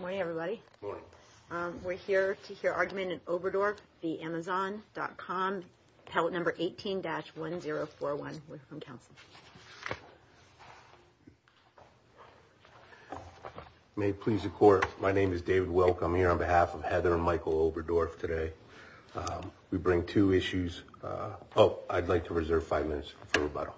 Morning everybody. We're here to hear argument in Oberdorf v. Amazon.Com Pallet number 18-1041. May it please the court. My name is David Wilk. I'm here on behalf of Heather and Michael Oberdorf today. We bring two issues. Oh, I'd like to reserve five minutes for rebuttal.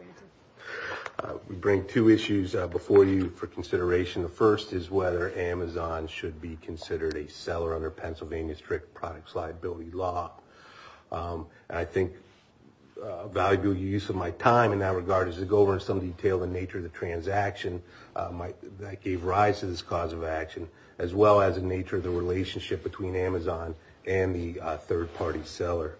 We bring two issues before you for consideration. The first is whether Amazon should be considered a seller under Pennsylvania's strict products liability law. I think valuable use of my time in that regard is to go over in some detail the nature of the transaction that gave rise to this cause of action as well as the nature of the relationship between Amazon and the third-party seller.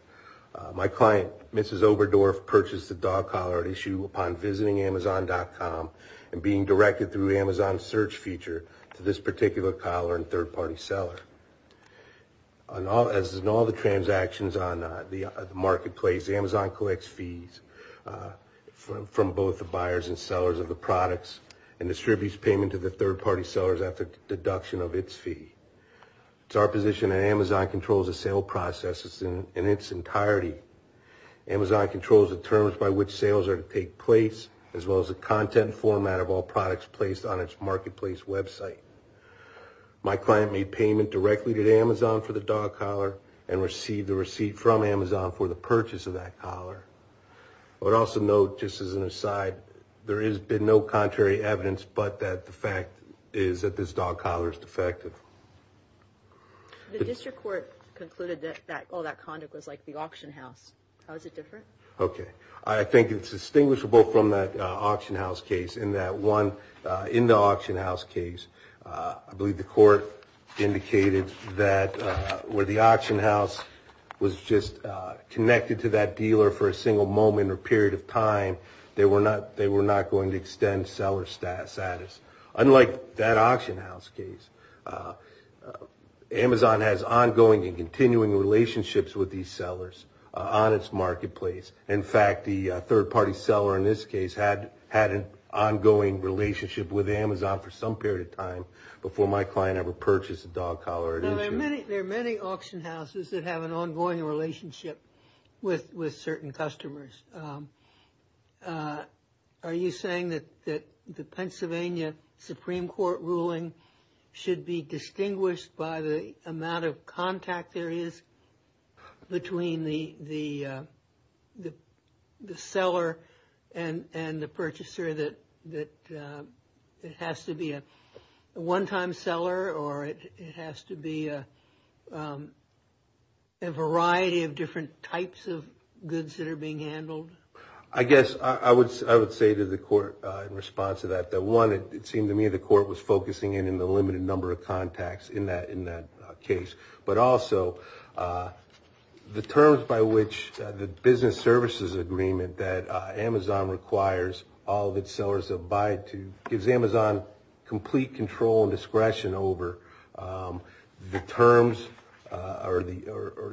My client, Mrs. Oberdorf, purchased the dog collar at issue upon visiting Amazon.com and being directed through the Amazon search feature to this particular collar and third-party seller. As in all the transactions on the marketplace, Amazon collects fees from both the buyers and sellers of the products and distributes payment to the third-party sellers at the deduction of its fee. It's our position that Amazon controls the sale processes in its entirety. Amazon controls the terms by which sales are to take place as well as the content format of all products placed on its marketplace website. My client made payment directly to the Amazon for the dog collar and received the receipt from Amazon for the purchase of that collar. I would also note, just as an aside, there has been no contrary evidence, but that the fact is that this dog collar is defective. The district court concluded that all that conduct was like the auction house. How is it different? Okay, I think it's distinguishable from that auction house case in that one, in the auction house case, I believe the court indicated that where the auction house was just connected to that dealer for a single moment or period of time, they were not going to extend seller status. Unlike that auction house case, Amazon has ongoing and continuing relationships with these sellers on its marketplace. In fact, the third-party seller in this case had an ongoing relationship with Amazon for some period of time before my client ever purchased a dog collar. There are many auction houses that have an ongoing relationship with certain customers. Are you saying that the Pennsylvania Supreme Court ruling should be distinguished by the amount of contact there is between the seller and the purchaser, that it has to be a one-time seller or it has to be a variety of different types of goods that are being handled? I guess I would say to the court in response to that, that one, it seemed to me the court was focusing in on the limited number of contacts in that case, but also the terms by which the business services agreement that Amazon requires all of its sellers to abide to gives Amazon complete control and discretion over the terms or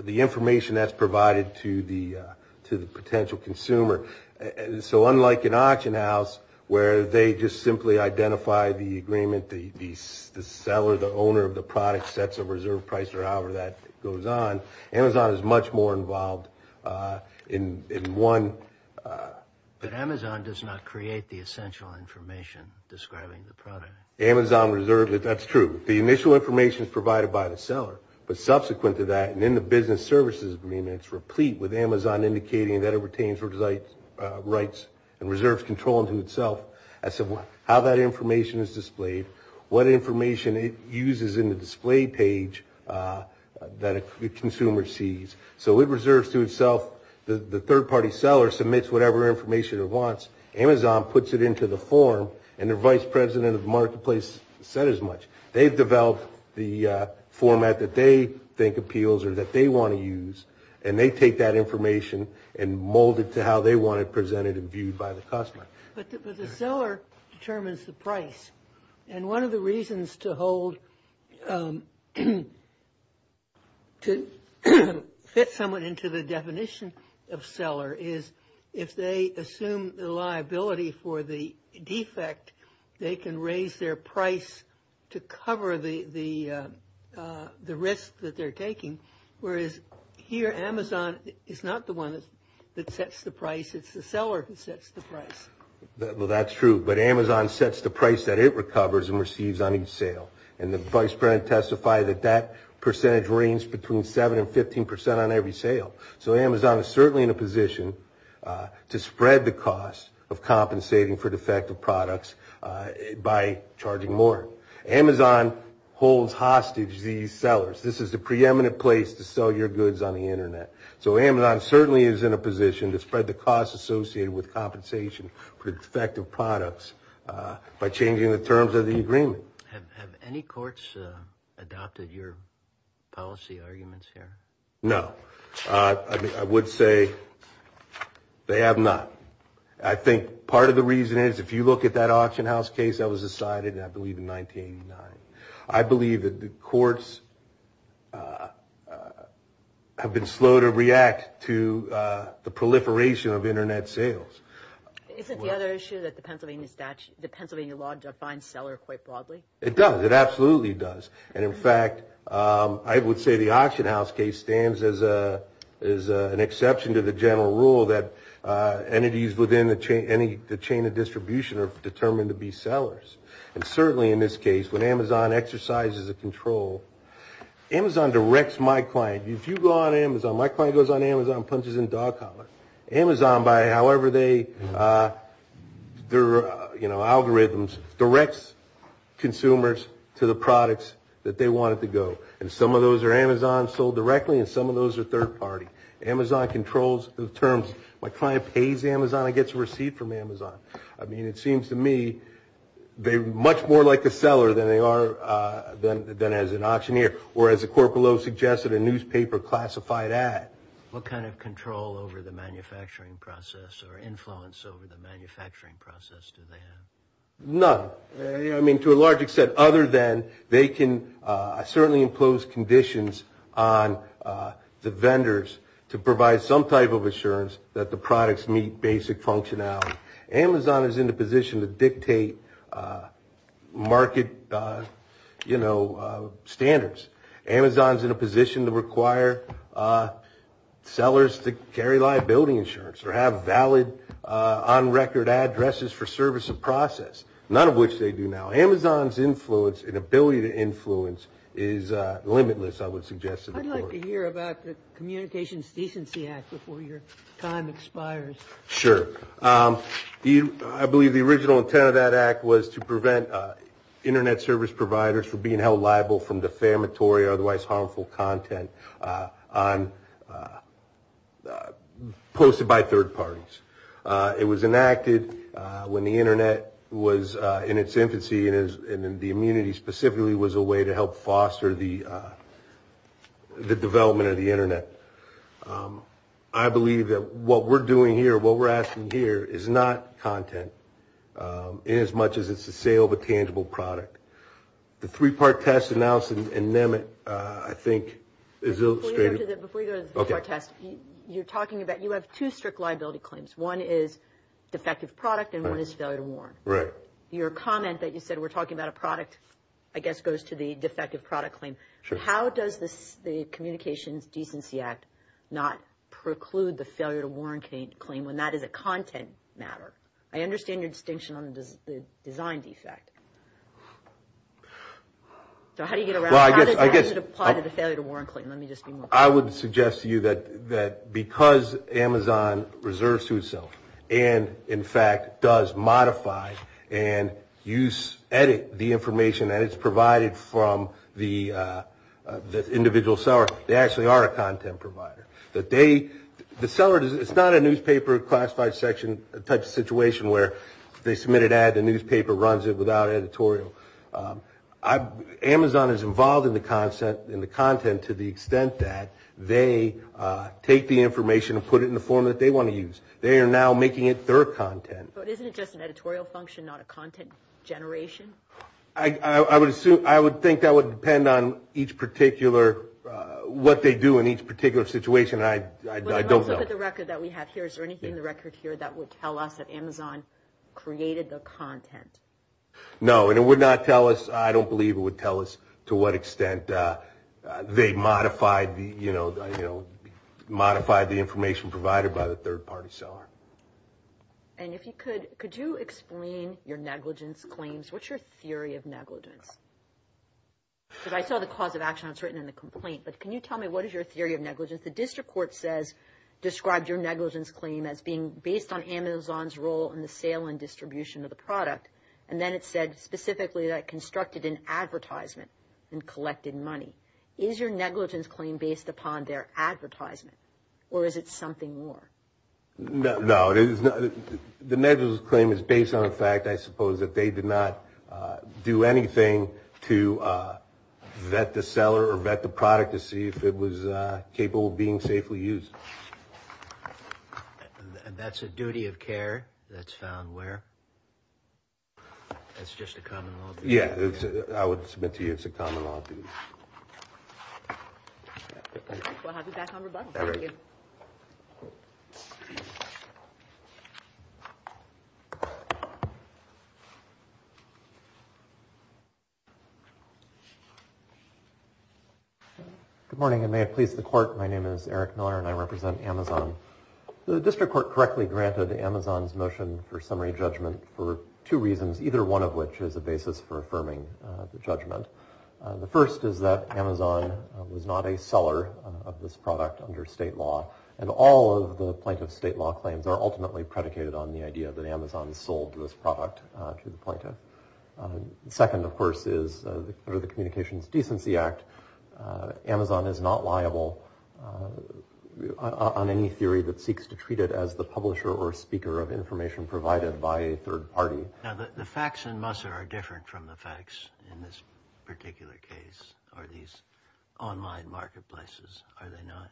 the information that's provided to the potential consumer. So unlike an auction house where they just simply identify the agreement, the seller, the owner of the product, sets a reserve price or however that goes on, Amazon is much more involved in one. But Amazon does not create the essential information describing the product. Amazon reserves it, that's true. The initial information is provided by the seller, but subsequent to that and in the business services agreement, it's replete with Amazon indicating that it retains rights and reserves control unto itself as to how that information is displayed, what information it uses in the display page that a consumer sees. So it reserves to itself, the third-party seller submits whatever information it wants, Amazon puts it into the form and the vice president of marketplace said as much. They've developed the information and they take that information and mold it to how they want it presented and viewed by the customer. But the seller determines the price and one of the reasons to hold, to fit someone into the definition of seller is if they assume the liability for the defect, they can raise their price to cover the cost. Here Amazon is not the one that sets the price, it's the seller who sets the price. Well, that's true. But Amazon sets the price that it recovers and receives on each sale and the vice president testifies that that percentage range between 7 and 15 percent on every sale. So Amazon is certainly in a position to spread the cost of compensating for defective products by charging more. Amazon holds hostage these sellers. This is the preeminent place to sell your goods on the Internet. So Amazon certainly is in a position to spread the cost associated with compensation for defective products by changing the terms of the agreement. Have any courts adopted your policy arguments here? No, I would say they have not. I think part of the reason is if you look at that auction house case that was decided, I believe, in 1989. I believe that the courts have been slow to react to the proliferation of Internet sales. Isn't the other issue that the Pennsylvania statute, the Pennsylvania law defines seller quite broadly? It does, it absolutely does. And in fact, I would say the auction house case stands as an exception to the general rule that entities within the chain of distribution are determined to be sellers. And certainly in this case, when Amazon exercises a control, Amazon directs my client. If you go on Amazon, my client goes on Amazon and punches in dog collar. Amazon, by however they, their, you know, algorithms, directs consumers to the products that they wanted to go. And some of those are Amazon sold directly and some of those are third-party. Amazon controls the terms. My client pays Amazon and gets a receipt from Amazon. I mean, it seems to me they're much more like a seller than they are than as an auctioneer. Or as the court below suggested, a newspaper classified ad. What kind of control over the manufacturing process or influence over the manufacturing process do they have? None. I mean, to a large extent, other than they can certainly impose conditions on the vendors to provide some type of assurance that the products meet basic functionality. Amazon is in a position to dictate market, you know, standards. Amazon's in a position to require sellers to carry liability insurance or have valid on record addresses for service and process, none of which they do now. Amazon's influence and ability to influence is limitless, I would suggest to the court. I'd like to hear about the Communications Decency Act before your time expires. Sure. I believe the original intent of that act was to prevent internet service providers from being held liable for defamatory or otherwise harmful content posted by third parties. It was enacted when the internet was in its infancy and the immunity specifically was a way to help foster the development of the internet. I believe that what we're doing here, what we're asking here, is not content in as much as it's a sale of a tangible product. The three-part test announced in Nemet, I think, is illustrative. You're talking about, you have two strict liability claims. One is defective product and one is failure to warn. Right. Your comment that you said we're talking about a product, I guess, goes to the defective product claim. How does this, the Communications Decency Act, not preclude the failure to warn claim when that is a content matter? I understand your distinction on the design defect. So, how do you get around, how does it apply to the failure to warn claim? Let me just be more clear. I would suggest to you that because Amazon reserves to itself and, in fact, does modify and use, edit the information that it's provided from the individual seller, they actually are a content provider. That they, the seller, it's not a newspaper classified section type of situation where they submit an ad, the newspaper runs it without editorial. Amazon is involved in the content to the extent that they take the information and put it in the form that they want to use. They are now making it their content. But isn't it just an editorial function, not a content generation? I would assume, I would think that would depend on each particular, what they do in each particular situation. I don't know. Let's look at the record that we have here. Is there anything in the record here that would tell us that Amazon created the content? No, and it would not tell us, I don't believe it would tell us, to what extent they modified the, you know, you know, modified the information provided by the third-party seller. And if you could, could you explain your negligence claims? What's your theory of negligence? Because I saw the cause of action that's written in the complaint, but can you tell me what is your theory of negligence? The district court says described your negligence claim as being based on Amazon's role in the sale and distribution of the product, and then it said specifically that constructed an advertisement and collected money. Is your negligence claim based upon their advertisement, or is it something more? No, it is not. The negligence claim is based on the fact, I suppose, that they did not do anything to vet the seller or vet the product to see if it was capable of being safely used. That's a duty of care that's found where? That's just a common law. Yeah, I would submit to you it's a common law. Good morning, and may it please the court. My name is Eric Miller, and I represent Amazon. The district court correctly granted Amazon's motion for summary judgment for two reasons, either one of which is a basis for affirming the judgment. The first is that Amazon was not a seller of this product under state law, and all of the plaintiff's state law claims are ultimately predicated on the idea that Amazon sold this product to the plaintiff. Second, of course, is the Communications Decency Act. Amazon is not liable on any theory that seeks to treat it as the publisher or speaker of information provided by a third party. The facts in Musser are different from the facts in this particular case, or these online marketplaces, are they not?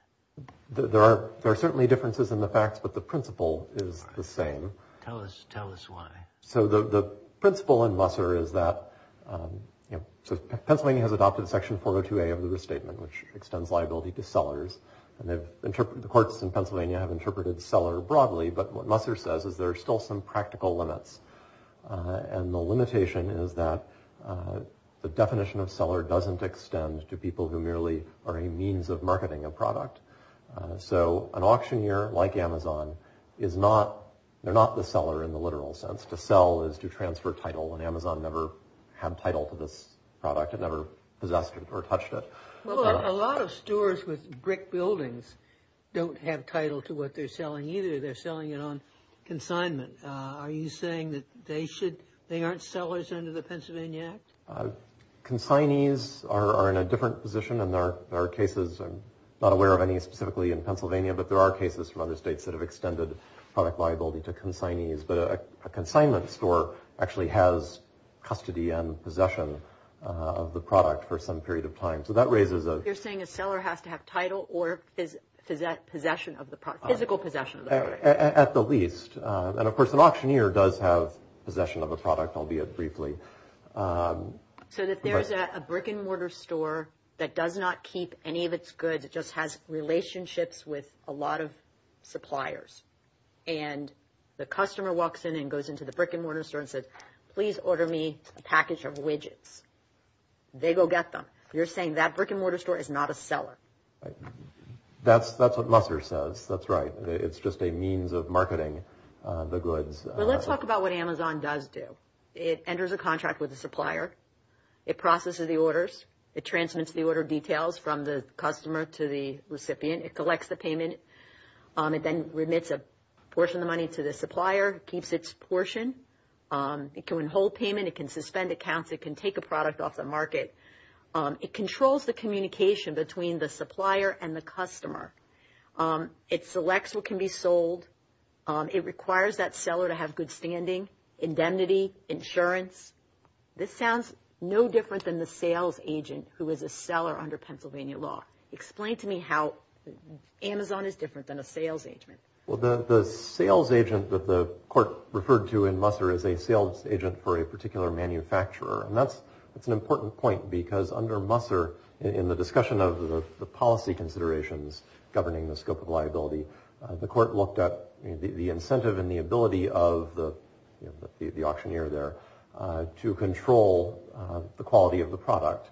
There are certainly differences in the facts, but the principle is the same. Tell us why. So the principle in Musser is that Pennsylvania has adopted section 402A of the restatement, which extends liability to sellers, and the courts in Pennsylvania have interpreted seller broadly, but what Musser says is there are still some practical limits. And the limitation is that the definition of seller doesn't extend to people who merely are a means of marketing a product. So an auctioneer like Amazon is not, they're not the seller in the literal sense. To sell is to transfer title, and Amazon never had title to this product. It never possessed it or touched it. A lot of stores with brick buildings don't have title to what they're selling either. They're selling it on they aren't sellers under the Pennsylvania Act? Consignees are in a different position, and there are cases, I'm not aware of any specifically in Pennsylvania, but there are cases from other states that have extended product liability to consignees, but a consignment store actually has custody and possession of the product for some period of time. So that raises a... You're saying a seller has to have title or possession of the product, physical possession of the product. At the least. And of course an auctioneer does have possession of a product, albeit briefly. So that there's a brick-and-mortar store that does not keep any of its goods. It just has relationships with a lot of suppliers, and the customer walks in and goes into the brick-and-mortar store and says, please order me a package of widgets. They go get them. You're saying that brick-and-mortar store is not a seller. That's what Musser says. That's right. It's just a means of marketing the goods. Well, let's talk about what Amazon does do. It enters a contract with the supplier. It processes the orders. It transmits the order details from the customer to the recipient. It collects the payment. It then remits a portion of the money to the supplier, keeps its portion. It can withhold payment. It can suspend accounts. It can take a product off the market. It controls the communication between the supplier and the customer. It selects what can be sold. It requires that seller to have good standing, indemnity, insurance. This sounds no different than the sales agent who is a seller under Pennsylvania law. Explain to me how Amazon is different than a sales agent. Well, the sales agent that the court referred to in Musser is a sales agent for a particular manufacturer. And that's an important point because under Musser, in the discussion of the policy considerations governing the scope of liability, the court looked at the incentive and the ability of the auctioneer there to control the quality of the product.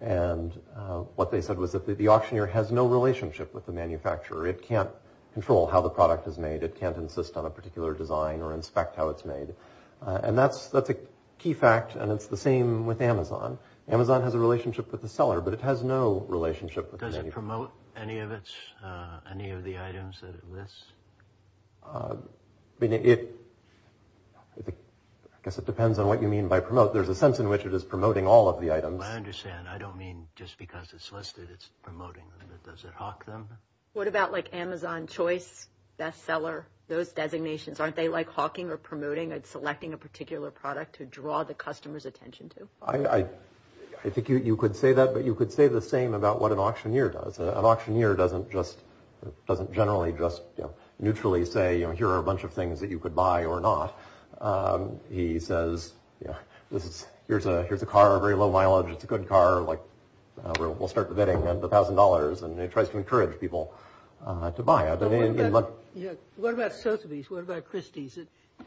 What they said was that the auctioneer has no relationship with the manufacturer. It can't control how the product is made. It can't insist on a particular design or inspect how it's made. And that's a key fact, and it's the same with Amazon. Amazon has a relationship with the seller, but it has no relationship with the manufacturer. Does it promote any of its, any of the items that it lists? I mean, it, I guess it depends on what you mean by promote. There's a sense in which it is promoting all of the items. I understand. I don't mean just because it's listed, it's promoting them. Does it hawk them? What about like Amazon Choice Bestseller? Those designations, aren't they like hawking or promoting? It's selecting a particular product to draw the customer's attention to. I think you could say that, but you could say the same about what an auctioneer does. An auctioneer doesn't just, doesn't generally just, you know, neutrally say, you know, here are a bunch of things that you could buy or not. He says, you know, this is, here's a, here's a car, very low mileage. It's a good car, like, we'll start the bidding at $1,000, and it tries to encourage people to buy it. What about Sotheby's? What about Christie's?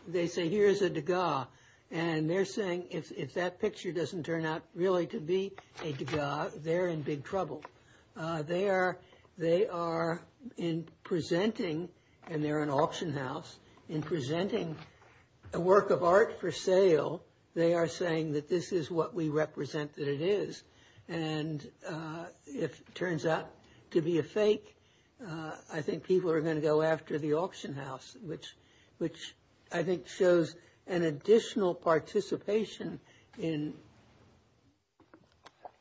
They say, here is a Degas, and they're saying if that picture doesn't turn out really to be a Degas, they're in big trouble. They are, they are in presenting, and they're an auction house, in presenting a work of art for sale, they are saying that this is what we represent that it is, and if it turns out to be a fake, I think people are going to go after the auction house, which, which I think shows an additional participation in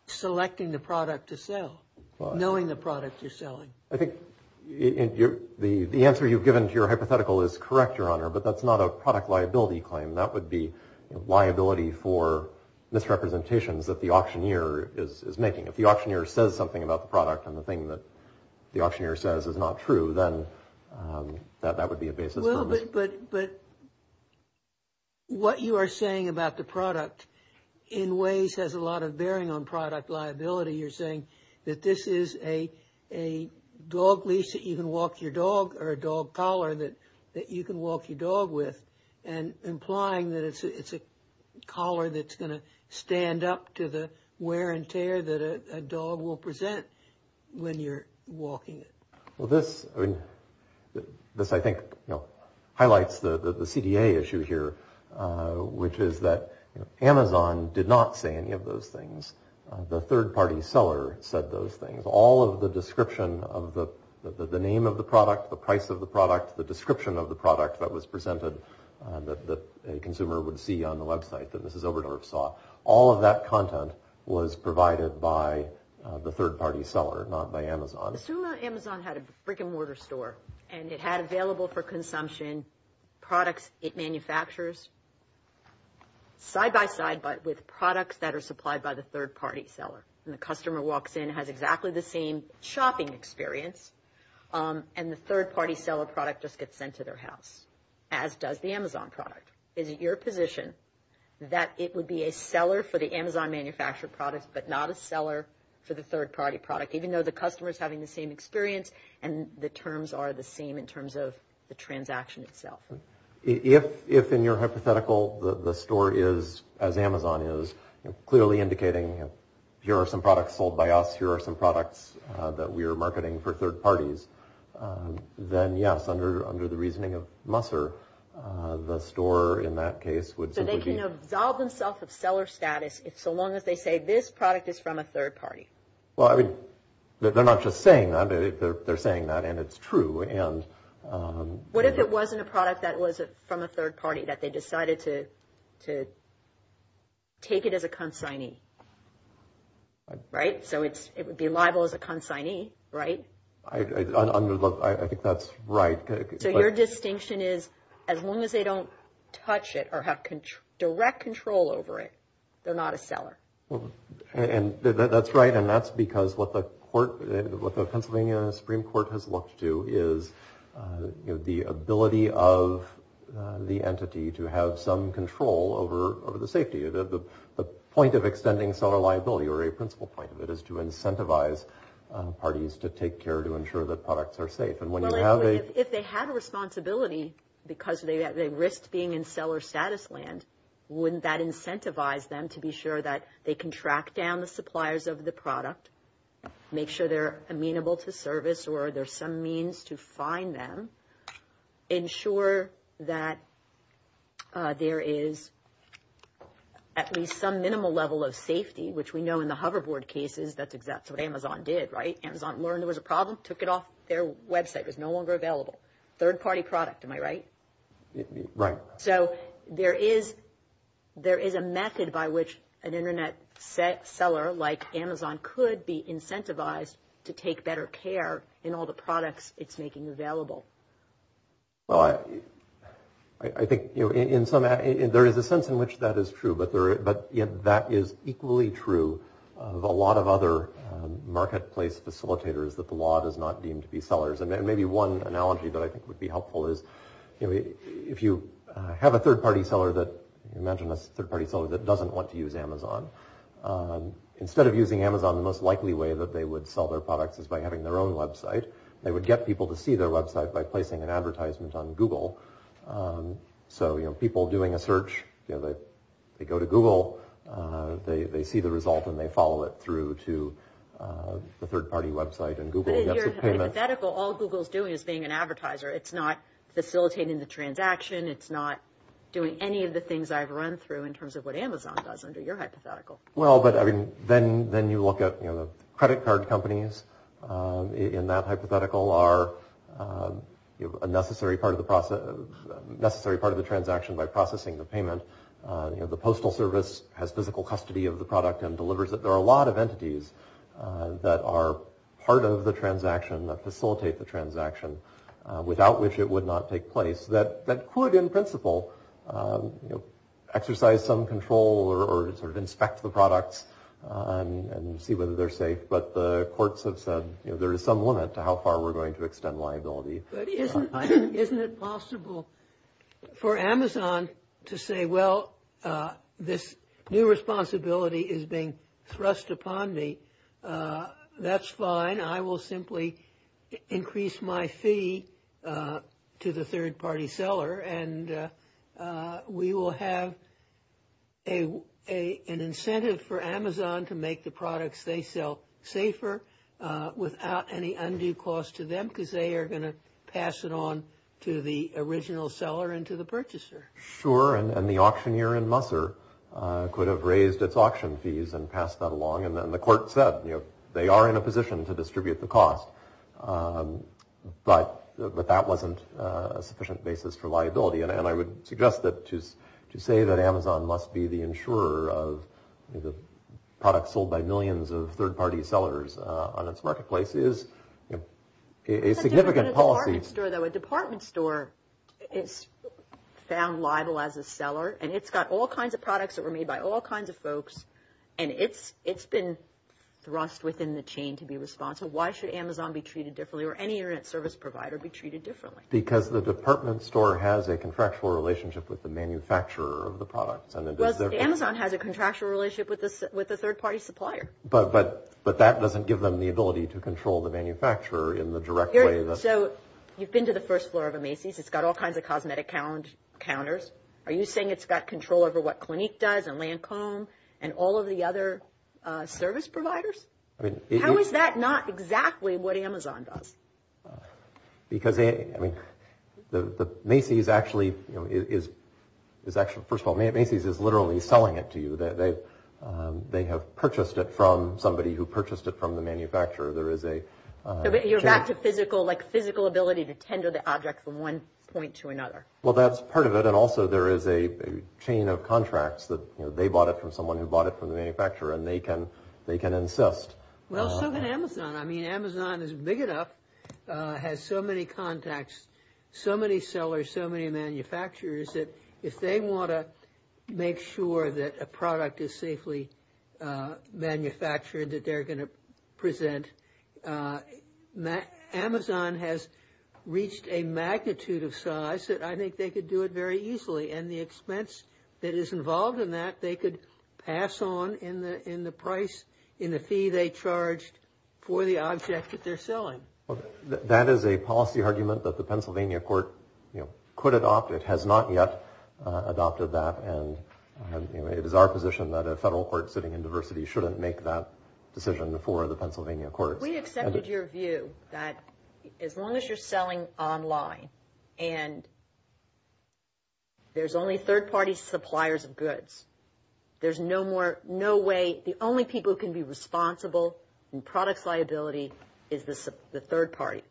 selecting the product to sell, knowing the product you're selling. I think, and you're, the, the answer you've given to your hypothetical is correct, Your Honor, but that's not a product liability claim. That would be liability for misrepresentations that the auctioneer is making. If the auctioneer says something about the product, and the thing that the auctioneer says is not true, then that, that would be a basis. Well, but, but, but what you are saying about the product, in ways, has a lot of bearing on product liability. You're saying that this is a, a dog leash that you can walk your dog, or a dog collar that, that you can walk your dog with, and implying that it's, it's a stand-up to the wear and tear that a dog will present when you're walking it. Well, this, I mean, this, I think, you know, highlights the, the, the CDA issue here, which is that, you know, Amazon did not say any of those things. The third-party seller said those things. All of the description of the, the name of the product, the price of the product, the description of the product that was presented, that, that a consumer would see on the website, that Mrs. Oberdorf saw, all of that content was provided by the third-party seller, not by Amazon. Assume that Amazon had a brick-and-mortar store, and it had available for consumption products it manufactures side-by-side, but with products that are supplied by the third-party seller, and the customer walks in, has exactly the same shopping experience, and the third-party seller product just gets sent to their house, as does the Amazon product. Is it your position that it would be a seller for the Amazon manufactured products, but not a seller for the third-party product, even though the customer is having the same experience, and the terms are the same in terms of the transaction itself? If, if in your hypothetical, the, the store is, as Amazon is, clearly indicating, here are some products sold by us, here are some products that we are marketing for third parties, then yes, under, under the reasoning of Musser, the store, in that case, would simply be... So they can absolve themselves of seller status, if so long as they say, this product is from a third party. Well, I mean, they're not just saying that, they're, they're saying that, and it's true, and what if it wasn't a product that was from a third party, that they decided to, to take it as a consignee? Right? So it's, it would be liable as a consignee, right? I, I, under, look, I think that's right. So your distinction is, as long as they don't touch it, or have control, direct control over it, they're not a seller. And that's right, and that's because what the court, what the Pennsylvania Supreme Court has looked to is, you know, the ability of the entity to have some control over, over the safety. The, the, the point of extending seller liability, or a principle point of it, is to incentivize parties to take care, to ensure that products are safe. And when you have a... Well, if they had a responsibility, because they, they risked being in seller status land, wouldn't that incentivize them to be sure that they can track down the suppliers of the product, make sure they're amenable to service, or there's some means to fine them, ensure that there is at least some minimal level of safety, which we know in the hoverboard cases, that's exactly what Amazon did, right? Amazon learned there was a problem, took it off their website. It was no longer available. Third-party product, am I right? Right. So there is, there is a method by which an internet seller, like Amazon, could be incentivized to take better care in all the products it's making available. Well, I, I think, you know, in some, there is a sense in which that is true, but there, but, you know, that is equally true of a lot of other marketplace facilitators, that the law does not deem to be sellers. And maybe one analogy that I think would be helpful is, you know, if you have a third-party seller that, imagine a third-party seller that doesn't want to use Amazon, instead of using Amazon, the most likely way that they would sell their products is by having their own website. They would get people to see their website by placing an advertisement on Google. So, you know, people doing a search, you know, they, they go to Google, they, they see the result and they follow it through to the third-party website and Google. But in your hypothetical, all Google's doing is being an advertiser. It's not facilitating the transaction. It's not doing any of the things I've run through in terms of what Amazon does under your hypothetical. Well, but, I mean, then, then you look at, you know, the credit card companies. In that hypothetical are, you know, a necessary part of the process, necessary part of the transaction by processing the payment. You know, the Postal Service has physical custody of the product and delivers it. There are a lot of entities that are part of the transaction, that facilitate the transaction, without which it would not take place, that, that could, in principle, you know, exercise some control or sort of inspect the products and see whether they're safe. But the courts have said, you know, there is some limit to how far we're going to extend liability. Isn't it possible for Amazon to say, well, this new responsibility is being thrust upon me. That's fine. I will simply increase my fee to the third-party seller and we will have a, an incentive for Amazon to make the products they sell safer without any undue cost to them, because they are going to pass it on to the original seller and to the purchaser. Sure, and the auctioneer in Musser could have raised its auction fees and passed that along and then the court said, you know, they are in a position to distribute the cost. And I would suggest that, to say that Amazon must be the insurer of the products sold by millions of third-party sellers on its marketplace is, you know, a significant policy. But a department store, though, a department store is found liable as a seller and it's got all kinds of products that were made by all kinds of folks and it's, it's been thrust within the chain to be responsible. Why should Amazon be treated differently or any internet service provider be treated differently? Because the department store has a contractual relationship with the manufacturer of the products. Well, Amazon has a contractual relationship with the, with the third-party supplier. But, but, but that doesn't give them the ability to control the manufacturer in the direct way that... So, you've been to the first floor of a Macy's. It's got all kinds of cosmetic counters. Are you saying it's got control over what Clinique does and Lancome and all of the other service providers? How is that not exactly what Amazon does? Because, I mean, the Macy's actually, you know, is, is actually, first of all, Macy's is literally selling it to you. They have purchased it from somebody who purchased it from the manufacturer. There is a... You're back to physical, like, physical ability to tender the object from one point to another. Well, that's part of it. And also there is a chain of contracts that, you know, they bought it from someone who bought it from the manufacturer and they can, they can insist. Well, so can Amazon. I mean, Amazon is big enough, has so many contacts, so many sellers, so many manufacturers, that if they want to make sure that a product is safely manufactured, that they're going to present... Amazon has reached a magnitude of size that I think they could do it very easily. And the expense that is involved in that, they could pass on in the, in the price, in the fee they charged for the object that they're selling. That is a policy argument that the Pennsylvania court, you know, could adopt. It has not yet adopted that and, you know, it is our position that a federal court sitting in diversity shouldn't make that decision for the Pennsylvania courts. We accepted your view that as long as you're selling online and there's only third-party suppliers of goods, there's no more, no way, the only people who can be responsible in products liability is the third party.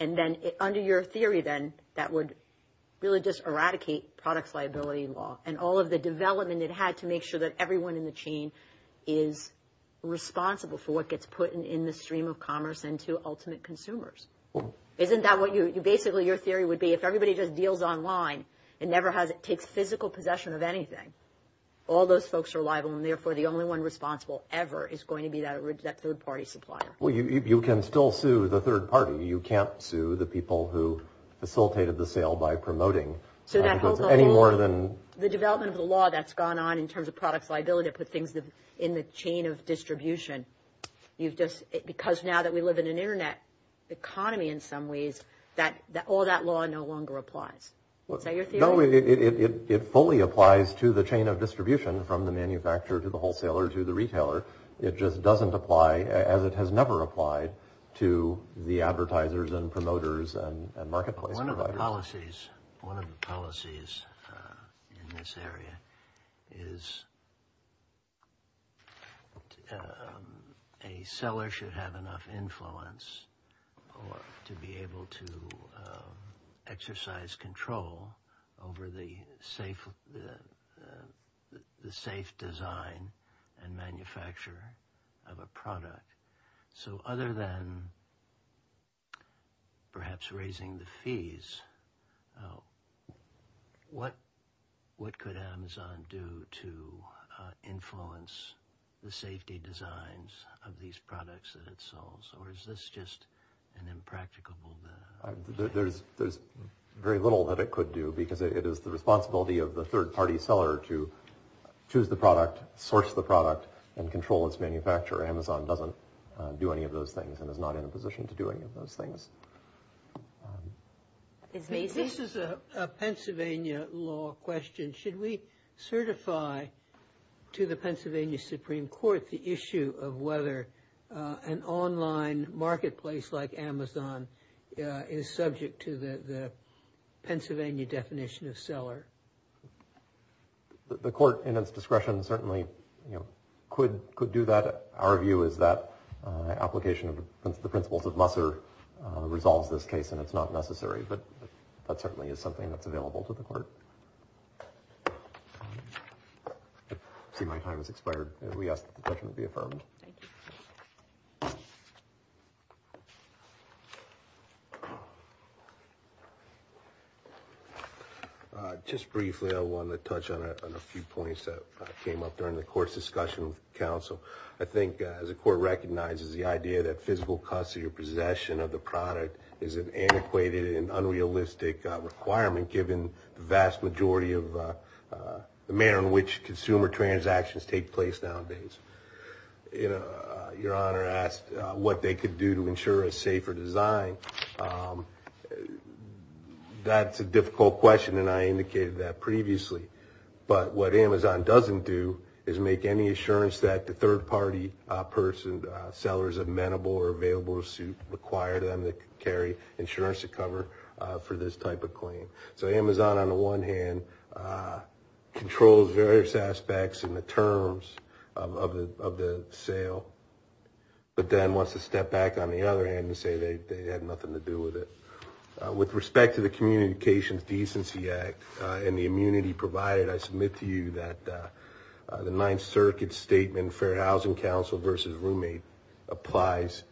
And then under your theory then, that would really just eradicate products liability law and all of the development it had to make sure that everyone in the chain is responsible for what gets put in the stream of commerce and to ultimate consumers. Isn't that what you, basically your theory would be? If everybody just deals online, it never has, it takes physical possession of anything. All those folks are liable and therefore the only one responsible ever is going to be that third-party supplier. Well, you can still sue the third party. You can't sue the people who facilitated the sale by promoting any more than... The development of the law that's gone on in terms of products liability to put things in the chain of distribution. You've just, because now that we live in an internet economy in some ways, that all that law no longer applies. Is that your theory? No, it fully applies to the chain of distribution from the manufacturer to the wholesaler to the retailer. It just doesn't apply as it has never applied to the advertisers and promoters and marketplace providers. One of the policies in this area is a seller should have enough influence or to be able to exercise control over the safe design and manufacture of a product. So other than perhaps raising the fees, what could Amazon do to influence the safety designs of these products that it sells? Or is this just an impracticable? There's very little that it could do because it is the responsibility of the third-party seller to choose the product, source the product, and control its manufacturer. Amazon doesn't do any of those things and is not in a position to do any of those things. This is a Pennsylvania law question. Should we certify to the Pennsylvania Supreme Court the issue of whether an online marketplace like Amazon is subject to the Pennsylvania definition of seller? The court in its discretion certainly, you know, could do that. Our view is that application of the principles of Musser resolves this case and it's not necessary, but that certainly is something that's available to the court. I see my time has expired and we ask that the question be affirmed. Thank you. Just briefly, I want to touch on a few points that came up during the court's discussion with counsel. I think as the court recognizes the idea that physical custody or possession of the product is an antiquated and unrealistic requirement given the vast majority of the manner in which consumer transactions take place nowadays. Your Honor asked what they could do to ensure a safer design. That's a difficult question and I indicated that previously. But what Amazon doesn't do is make any assurance that the third-party person, sellers of amenable or available suit require them to carry insurance to cover for this type of claim. So Amazon on the one hand controls various aspects and the terms of the sale, but then wants to step back on the other hand and say they had nothing to do with it. With respect to the Communications Decency Act and the immunity provided, I submit to you that the Ninth Circuit's statement, Fair Housing Council versus roommate, applies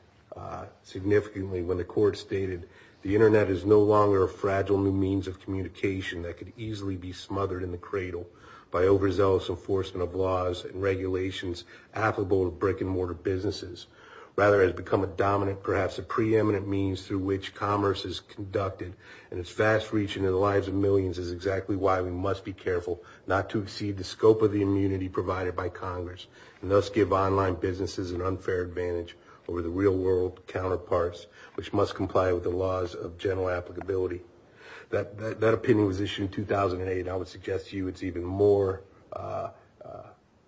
significantly when the court stated the internet is no longer a fragile new means of communication that could easily be smothered in the cradle by overzealous enforcement of laws and regulations applicable to brick-and-mortar businesses. Rather, it has become a dominant, perhaps a preeminent means through which commerce is conducted and its vast reach into the lives of millions is exactly why we must be careful not to exceed the scope of the immunity provided by Congress and thus give online businesses an unfair advantage over the real world counterparts, which must comply with the laws of general applicability. That opinion was issued in 2008. I would suggest to you it's even more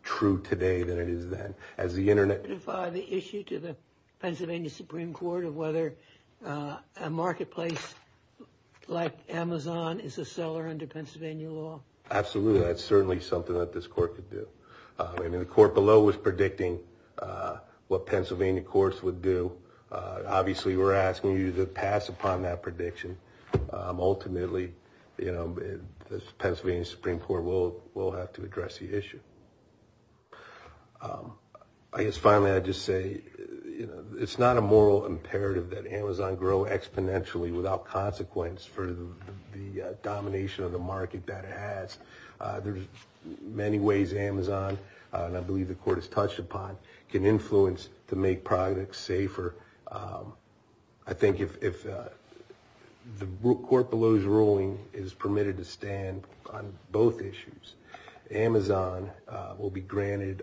true today than it is then. Can you clarify the issue to the Pennsylvania Supreme Court of whether a marketplace like Amazon is a seller under Pennsylvania law? Absolutely, that's certainly something that this court could do. I mean the court below was predicting what Pennsylvania courts would do. Obviously, we're asking you to pass upon that prediction. Ultimately, you know, the Pennsylvania Supreme Court will have to address the issue. I guess finally, I'd just say, you know, it's not a moral imperative that Amazon grow exponentially without consequence for the domination of the market that it has. There's many ways Amazon, and I believe the court has touched upon, can influence to make products safer. I think if the court below's ruling is permitted to stand on both issues, Amazon will be granted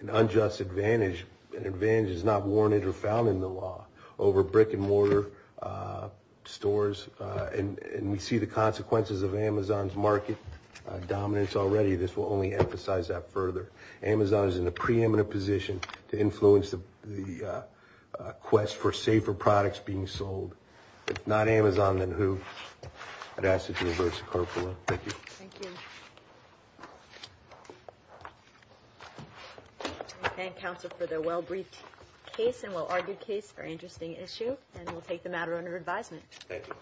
an unjust advantage. An advantage is not warranted or found in the law over brick and mortar stores. And we see the consequences of Amazon's market dominance already. This will only emphasize that further. Amazon is in a preeminent position to influence the quest for safer products being sold. If not Amazon, then who? I'd ask that you reverse the court below. Thank you. Thank you. I thank counsel for their well-briefed case and well-argued case. Very interesting issue, and we'll take the matter under advisement. Thank you.